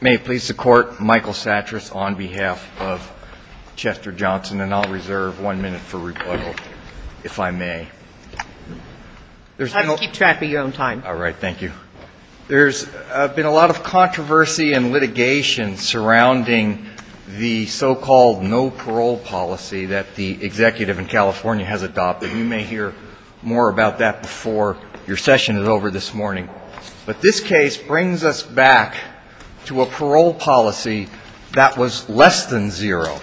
May it please the Court, Michael Sattras on behalf of Chester Johnson, and I'll reserve one minute for rebuttal, if I may. I'll just keep track of your own time. All right, thank you. There's been a lot of controversy and litigation surrounding the so-called no-parole policy that the executive in California has adopted. You may hear more about that before your session is over this morning. But this case brings us back to a parole policy that was less than zero.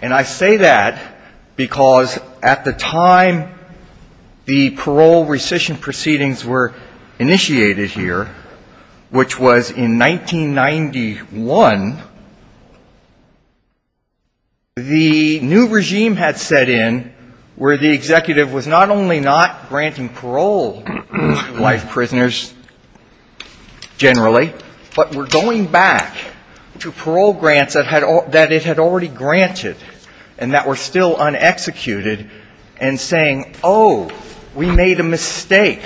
And I say that because at the time the parole rescission proceedings were initiated here, which was in 1991, the new regime had set in where the executive was not only not granting parole to life prisoners generally, but were going back to parole grants that it had already granted and that were still unexecuted and saying, oh, we made a mistake.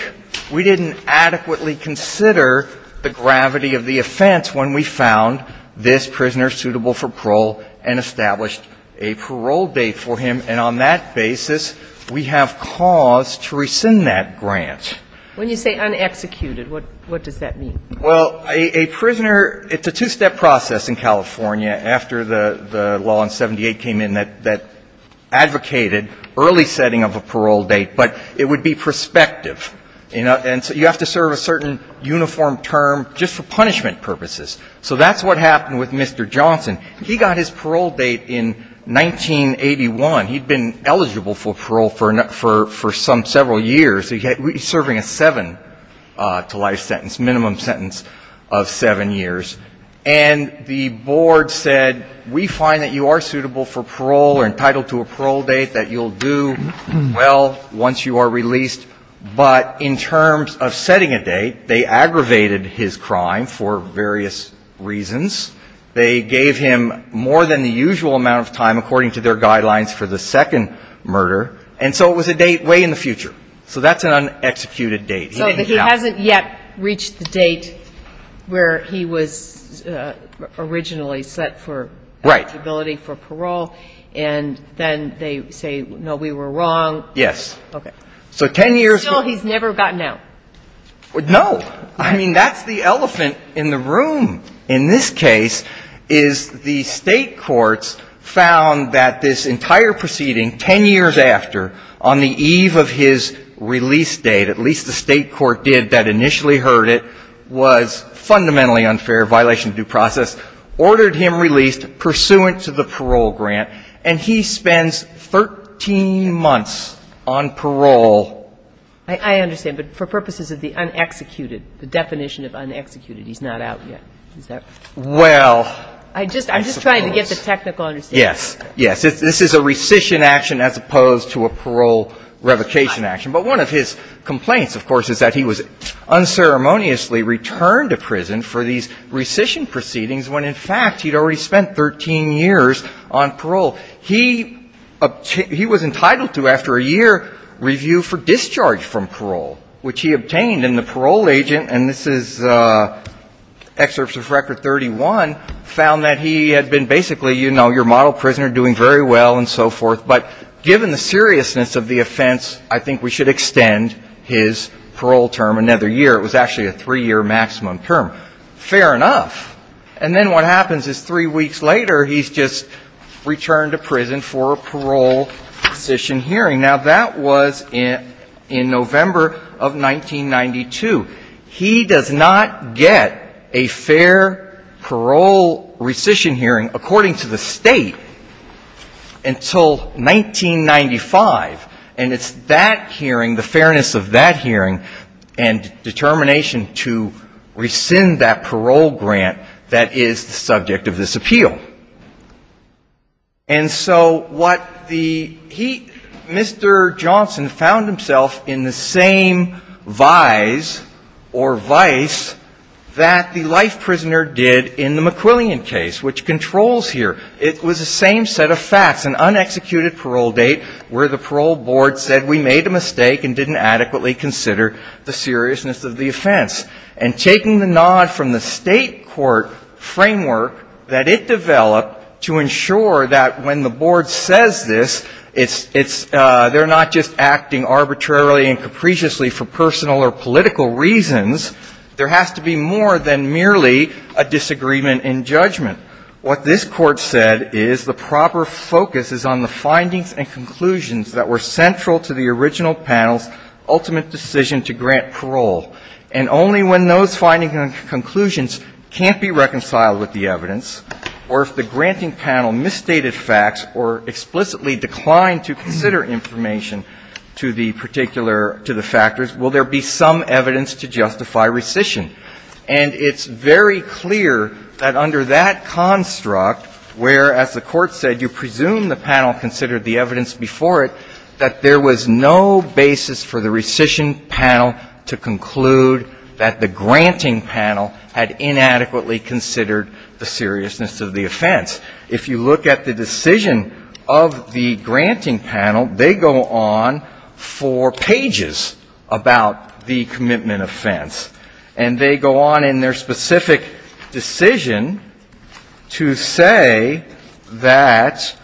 We didn't adequately consider the gravity of the offense when we found this prisoner suitable for parole and established a parole date for him. And on that basis, we have cause to rescind that grant. When you say unexecuted, what does that mean? Well, a prisoner, it's a two-step process in California after the law in 78 came in that advocated early setting of a parole date. But it would be prospective. And so you have to serve a certain uniform term just for punishment purposes. So that's what happened with Mr. Johnson. He got his parole date in 1981. He'd been eligible for parole for some several years. He's serving a seven-to-life sentence, minimum sentence of seven years. And the board said, we find that you are suitable for parole or entitled to a parole date that you'll do well once you are released. But in terms of setting a date, they aggravated his crime for various reasons. They gave him more than the usual amount of time according to their guidelines for the second murder. And so it was a date way in the future. So that's an unexecuted date. So he hasn't yet reached the date where he was originally set for eligibility for parole. Right. And then they say, no, we were wrong. Yes. Okay. So 10 years ago he's never gotten out. No. I mean, that's the elephant in the room in this case is the State courts found that this entire proceeding, 10 years after, on the eve of his release date, at least the State court did that initially heard it, was fundamentally unfair, violation of due process, ordered him released pursuant to the parole grant, and he spends 13 months on parole. I understand. But for purposes of the unexecuted, the definition of unexecuted, he's not out yet. Is that right? Well, I suppose. I'm just trying to get the technical understanding. Yes. Yes. This is a rescission action as opposed to a parole revocation action. But one of his complaints, of course, is that he was unceremoniously returned to prison for these rescission proceedings when, in fact, he'd already spent 13 years on parole. He was entitled to, after a year review for discharge from parole, which he obtained. And then the parole agent, and this is excerpts of Record 31, found that he had been basically, you know, your model prisoner, doing very well and so forth. But given the seriousness of the offense, I think we should extend his parole term another year. It was actually a three-year maximum term. Fair enough. And then what happens is three weeks later, he's just returned to prison for a parole rescission hearing. Now, that was in November of 1992. He does not get a fair parole rescission hearing, according to the State, until 1995. And it's that hearing, the fairness of that hearing, and determination to rescind that parole grant that is the subject of this appeal. And so what the heat, Mr. Johnson found himself in the same vise or vice that the life prisoner did in the McQuillian case, which controls here. It was the same set of facts, an unexecuted parole date where the parole board said we made a mistake and didn't adequately consider the seriousness of the offense. And taking the nod from the State court framework that it developed to ensure that when the board says this, it's they're not just acting arbitrarily and capriciously for personal or political reasons. There has to be more than merely a disagreement in judgment. What this court said is the proper focus is on the findings and conclusions that were central to the original panel's ultimate decision to grant parole. And only when those findings and conclusions can't be reconciled with the evidence, or if the granting panel misstated facts or explicitly declined to consider information to the particular, to the factors, will there be some evidence to justify rescission. And it's very clear that under that construct, where, as the Court said, you presume the panel considered the evidence before it, that there was no basis for the rescission panel to conclude that the granting panel had inadequately considered the seriousness of the offense. If you look at the decision of the granting panel, they go on for pages about the commitment offense. And they go on in their specific decision to say that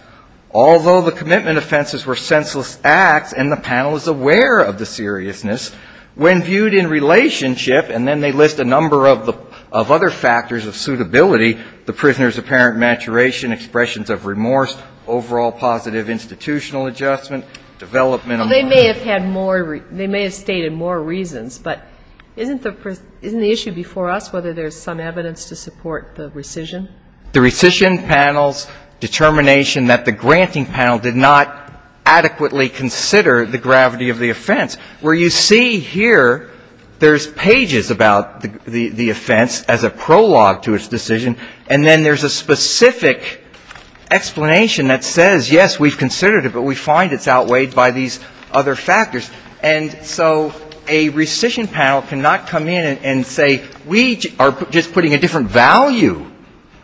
although the commitment offenses were senseless acts and the panel is aware of the seriousness, when viewed in relationship, and then they list a number of the other factors of suitability, the prisoner's apparent maturation, expressions of remorse, overall positive institutional adjustment, development of the relationship. They may have stated more reasons, but isn't the issue before us whether there's some evidence to support the rescission? The rescission panel's determination that the granting panel did not adequately consider the gravity of the offense, where you see here there's pages about the offense as a prologue to its decision, and then there's a specific explanation that says, yes, we've considered it, but we find it's outweighed by these other factors. And so a rescission panel cannot come in and say we are just putting a different value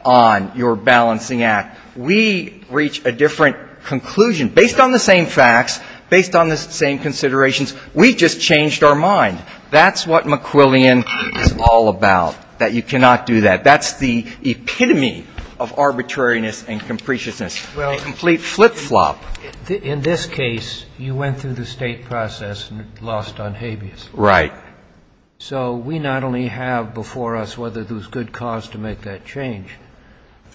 on your balancing act. We reach a different conclusion. Based on the same facts, based on the same considerations, we just changed our mind. That's what McQuillian is all about, that you cannot do that. That's the epitome of arbitrariness and capriciousness, a complete flip-flop. In this case, you went through the State process and lost on habeas. Right. So we not only have before us whether there was good cause to make that change,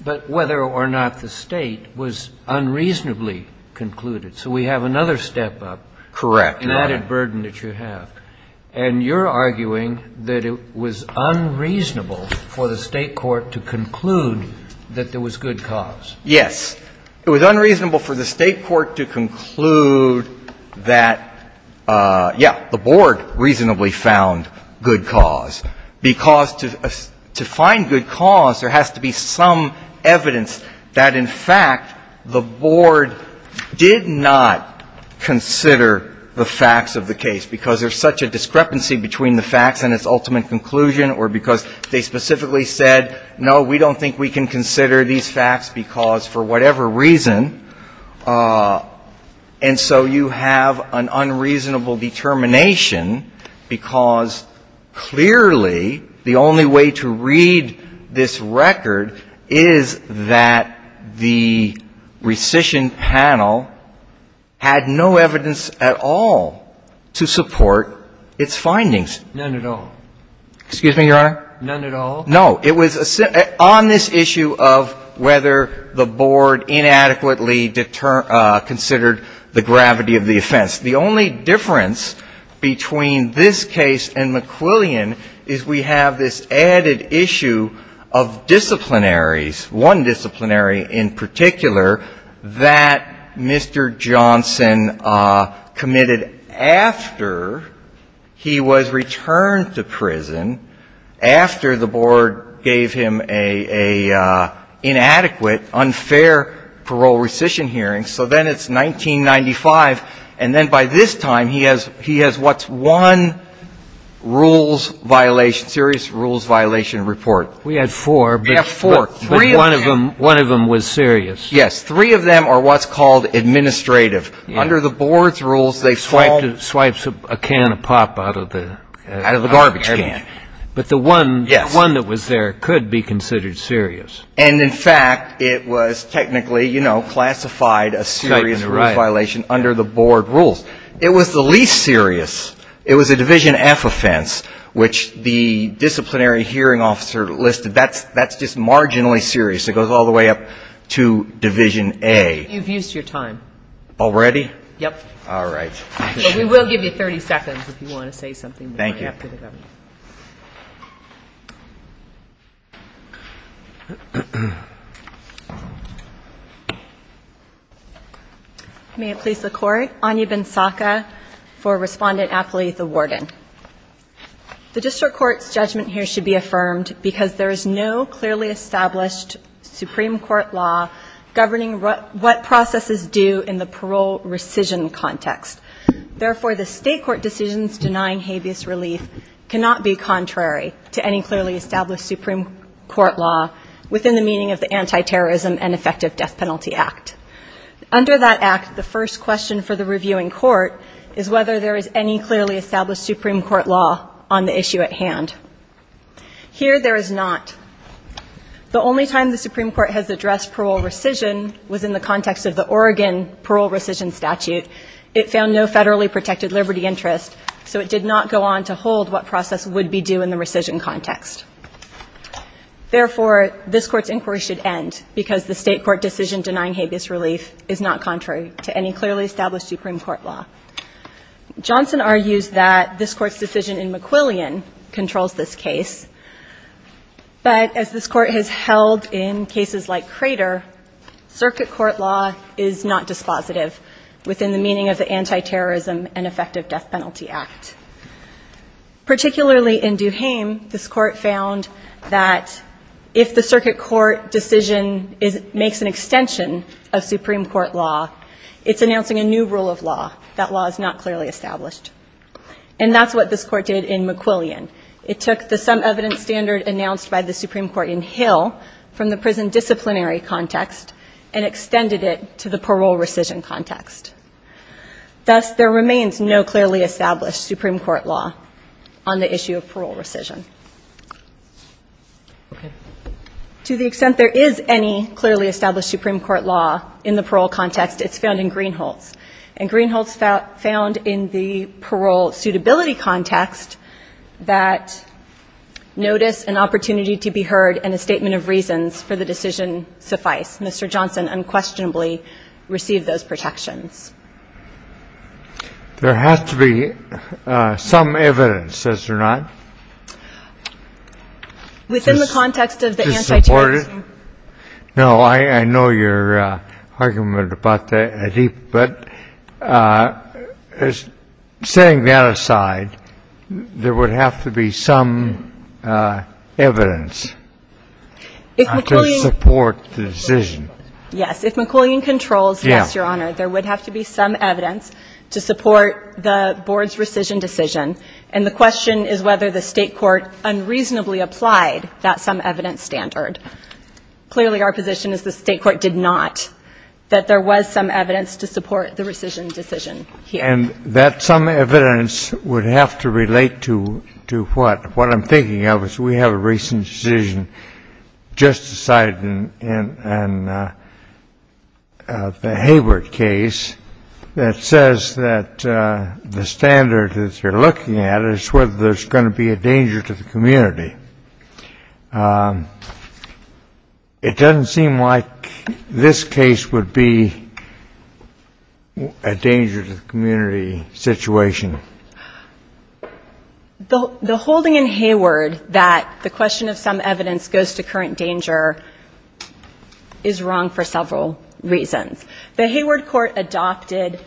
but whether or not the State was unreasonably concluded. So we have another step up. Correct. An added burden that you have. And you're arguing that it was unreasonable for the State court to conclude that there was good cause. Yes. It was unreasonable for the State court to conclude that, yeah, the Board reasonably found good cause. Because to find good cause, there has to be some evidence that, in fact, the Board did not consider the facts of the case, because there's such a discrepancy between the facts and its ultimate conclusion, or because they specifically said, no, we don't think we can consider these facts because for whatever reason. And so you have an unreasonable determination, because clearly the only way to read this record is that the rescission panel had no evidence at all to support its findings. None at all. Excuse me, Your Honor? None at all. No. It was on this issue of whether the Board inadequately considered the gravity of the offense. The only difference between this case and McQuillian is we have this added issue of disciplinaries, one disciplinary in particular, that Mr. Johnson committed after he was returned to prison, after the Board gave him an inadequate, unfair parole rescission hearing. So then it's 1995, and then by this time, he has what's one rules violation, serious rules violation report. We had four. We have four. Three of them. But one of them was serious. Yes. Three of them are what's called administrative. Under the Board's rules, they fall. Swipes a can of pop out of the. Out of the garbage can. But the one. Yes. The one that was there could be considered serious. And, in fact, it was technically, you know, classified a serious rules violation under the Board rules. It was the least serious. It was a Division F offense, which the disciplinary hearing officer listed. That's just marginally serious. It goes all the way up to Division A. You've used your time. Already? Yes. All right. We will give you 30 seconds if you want to say something. Thank you. May it please the Court. Anya Bensaka for Respondent Affiliate, the Warden. The District Court's judgment here should be affirmed because there is no clearly established Supreme Court law governing what processes do in the parole rescission context. Therefore, the state court decisions denying habeas relief cannot be contrary to any clearly established Supreme Court law within the meaning of the Anti-Terrorism and Effective Death Penalty Act. Under that act, the first question for the reviewing court is whether there is any clearly established Supreme Court law on the issue at hand. Here, there is not. The only time the Supreme Court has addressed parole rescission was in the context of the Oregon parole rescission statute. It found no federally protected liberty interest, so it did not go on to hold what process would be due in the rescission context. Therefore, this Court's inquiry should end because the state court decision denying habeas relief is not contrary to any clearly established Supreme Court law. Johnson argues that this Court's decision in McQuillian controls this case, but as this Court has held in cases like Crater, circuit court law is not dispositive within the meaning of the Anti-Terrorism and Effective Death Penalty Act. Particularly in Duhaime, this Court found that if the circuit court decision makes an extension of Supreme Court law, it's announcing a new rule of law that law is not clearly established. And that's what this Court did in McQuillian. It took the some evidence standard announced by the Supreme Court in Hill from the prison disciplinary context and extended it to the parole rescission context. Thus, there remains no clearly established Supreme Court law on the issue of parole rescission. To the extent there is any clearly established Supreme Court law in the parole context, it's found in Greenhalghs. And Greenhalghs found in the parole suitability context that notice and opportunity to be heard and a statement of reasons for the decision suffice. Mr. Johnson unquestionably received those protections. There has to be some evidence, does there not? Within the context of the anti-terrorism. No, I know your argument about that, but setting that aside, there would have to be some evidence to support the decision. Yes. If McQuillian controls, yes, Your Honor, there would have to be some evidence to support the board's rescission decision. And the question is whether the State court unreasonably applied that some evidence standard. Clearly, our position is the State court did not, that there was some evidence to support the rescission decision here. And that some evidence would have to relate to what? What I'm thinking of is we have a recent decision just decided in the Hayward case that says that the standard that you're looking at is whether there's going to be a danger to the community. It doesn't seem like this case would be a danger to the community situation. The holding in Hayward that the question of some evidence goes to current danger is wrong for several reasons. The Hayward court adopted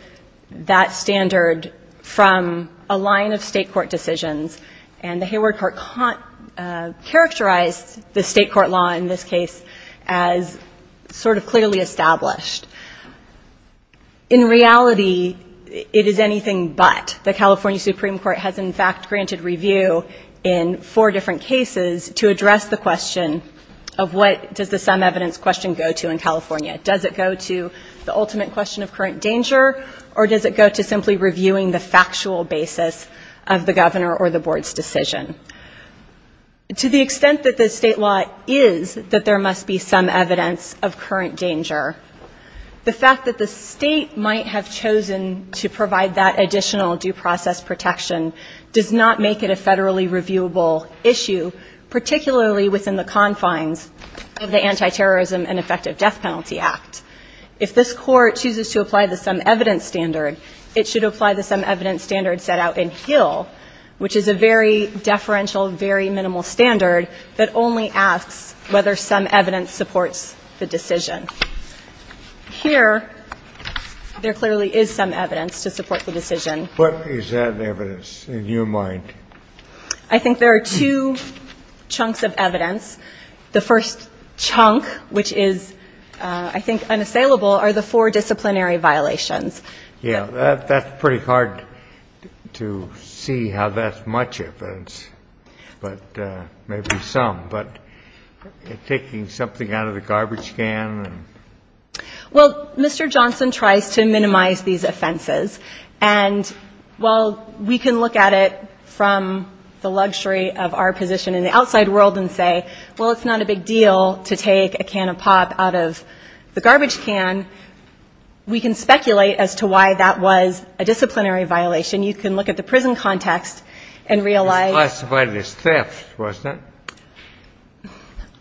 that standard from a line of State court decisions. And the Hayward court characterized the State court law in this case as sort of clearly established. In reality, it is anything but. The California Supreme Court has, in fact, granted review in four different cases to address the question of what does the some evidence question go to in California. Does it go to the ultimate question of current danger? Or does it go to simply reviewing the factual basis of the governor or the board's decision? To the extent that the State law is that there must be some evidence of current danger, the fact that the State might have chosen to provide that additional due process protection does not make it a federally reviewable issue, particularly within the confines of the Antiterrorism and Effective Death Penalty Act. If this court chooses to apply the some evidence standard, it should apply the some evidence standard set out in Hill, which is a very deferential, very minimal standard that only asks whether some evidence supports the decision. Here, there clearly is some evidence to support the decision. What is that evidence in your mind? I think there are two chunks of evidence. The first chunk, which is, I think, unassailable, are the four disciplinary violations. Yeah. That's pretty hard to see how that's much evidence, but maybe some. But taking something out of the garbage can and... Well, Mr. Johnson tries to minimize these offenses. And while we can look at it from the luxury of our position in the outside world and say, well, it's not a big deal to take a can of pop out of the garbage can, we can speculate as to why that was a disciplinary violation. You can look at the prison context and realize... It was classified as theft, wasn't it?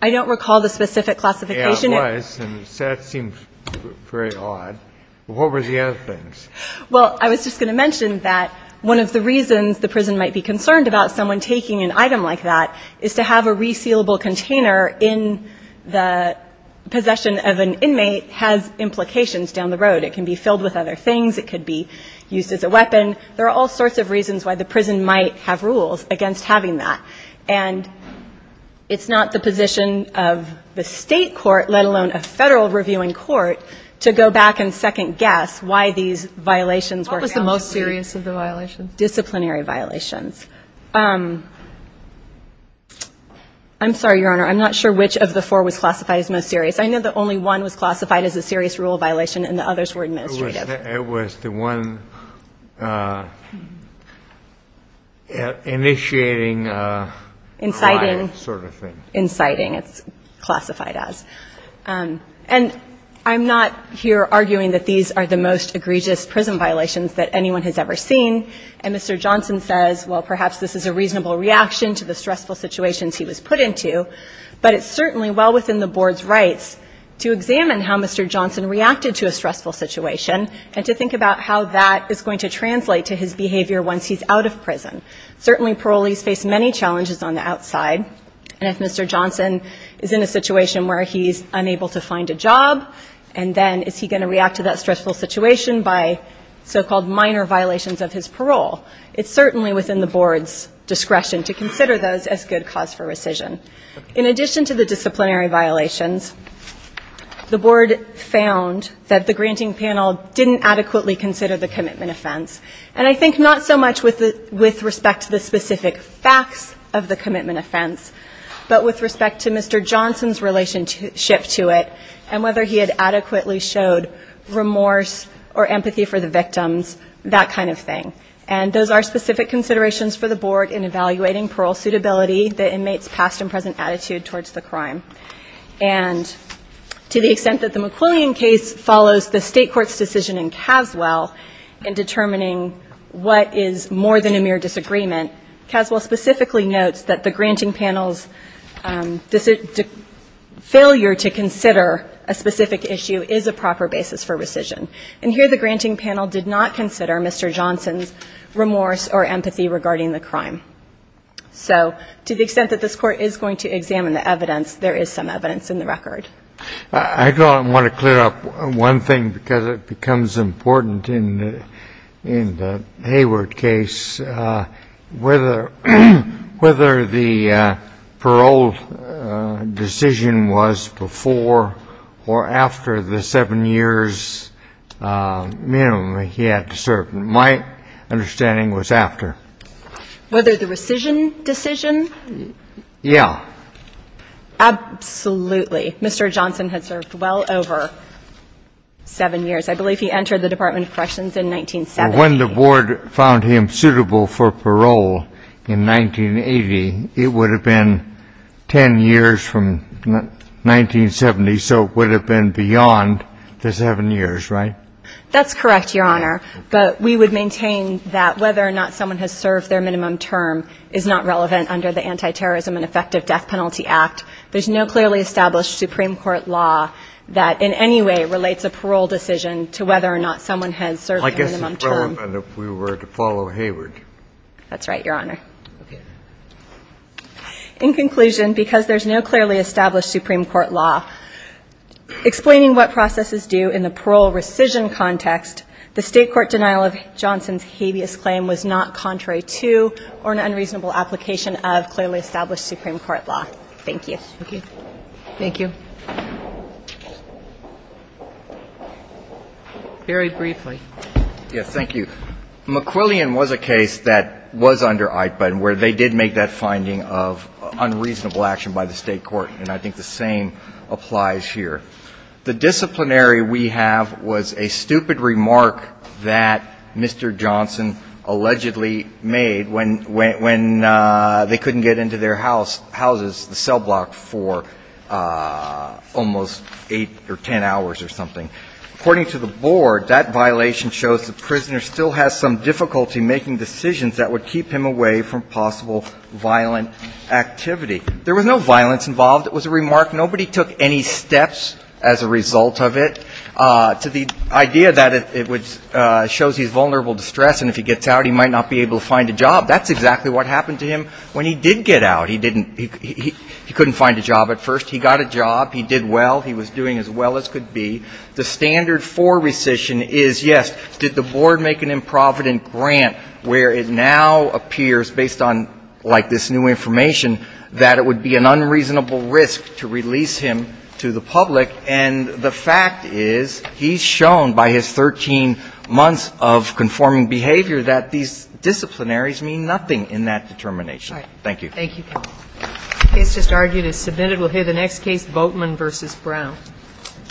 I don't recall the specific classification. Yeah, it was, and theft seems very odd. What were the other things? Well, I was just going to mention that one of the reasons the prison might be concerned about someone taking an item like that is to have a resealable container in the possession of an inmate has implications down the road. It can be filled with other things. It could be used as a weapon. There are all sorts of reasons why the prison might have rules against having that. And it's not the position of the State court, let alone a Federal reviewing court, to go back and second guess why these violations were... What was the most serious of the violations? Disciplinary violations. I'm sorry, Your Honor. I'm not sure which of the four was classified as most serious. I know the only one was classified as a serious rule violation, and the others were administrative. It was the one initiating a crime sort of thing. Inciting. It's classified as. And I'm not here arguing that these are the most egregious prison violations that anyone has ever seen. And Mr. Johnson says, well, perhaps this is a reasonable reaction to the stressful situations he was put into. But it's certainly well within the Board's rights to examine how Mr. Johnson reacted to a stressful situation and to think about how that is going to translate to his behavior once he's out of prison. Certainly parolees face many challenges on the outside. And if Mr. Johnson is in a situation where he's unable to find a job, and then is he going to react to that stressful situation by so-called minor violations of his parole? It's certainly within the Board's discretion to consider those as good cause for rescission. In addition to the disciplinary violations, the Board found that the granting panel didn't adequately consider the commitment offense. And I think not so much with respect to the specific facts of the commitment offense, but with respect to Mr. Johnson's relationship to it and whether he had adequately showed remorse or empathy for the victims, that kind of thing. And those are specific considerations for the Board in evaluating parole suitability, the inmate's past and present attitude towards the crime. And to the extent that the McQuillian case follows the State Court's decision in considering what is more than a mere disagreement, Caswell specifically notes that the granting panel's failure to consider a specific issue is a proper basis for rescission. And here the granting panel did not consider Mr. Johnson's remorse or empathy regarding the crime. So to the extent that this Court is going to examine the evidence, there is some evidence in the record. I don't want to clear up one thing because it becomes important in the Hayward case. Whether the parole decision was before or after the seven years minimum he had served, my understanding was after. Whether the rescission decision? Yeah. Absolutely. Mr. Johnson had served well over seven years. I believe he entered the Department of Corrections in 1970. When the Board found him suitable for parole in 1980, it would have been ten years from 1970, so it would have been beyond the seven years, right? That's correct, Your Honor. But we would maintain that whether or not someone has served their minimum term is not relevant under the Anti-Terrorism and Effective Death Penalty Act. There's no clearly established Supreme Court law that in any way relates a parole decision to whether or not someone has served their minimum term. I guess it's relevant if we were to follow Hayward. That's right, Your Honor. Okay. In conclusion, because there's no clearly established Supreme Court law explaining what processes do in the parole rescission context, the State court denial of Johnson's habeas claim was not contrary to or an unreasonable application of clearly established Supreme Court law. Thank you. Okay. Thank you. Very briefly. Yes. Thank you. McQuillian was a case that was under Eichmann where they did make that finding of unreasonable action by the State court, and I think the same applies here. The disciplinary we have was a stupid remark that Mr. Johnson allegedly made when they couldn't get into their houses, the cell block, for almost eight or ten hours or something. According to the board, that violation shows the prisoner still has some difficulty making decisions that would keep him away from possible violent activity. There was no violence involved. It was a remark. Nobody took any steps as a result of it. So the idea that it shows he's vulnerable to stress and if he gets out, he might not be able to find a job. That's exactly what happened to him when he did get out. He couldn't find a job at first. He got a job. He did well. He was doing as well as could be. The standard for rescission is, yes, did the board make an improvident grant where it now appears, based on like this new information, that it would be an unreasonable risk to release him to the public? And the fact is he's shown by his 13 months of conforming behavior that these disciplinaries mean nothing in that determination. Thank you. The case just argued is submitted. We'll hear the next case, Boatman v. Brown.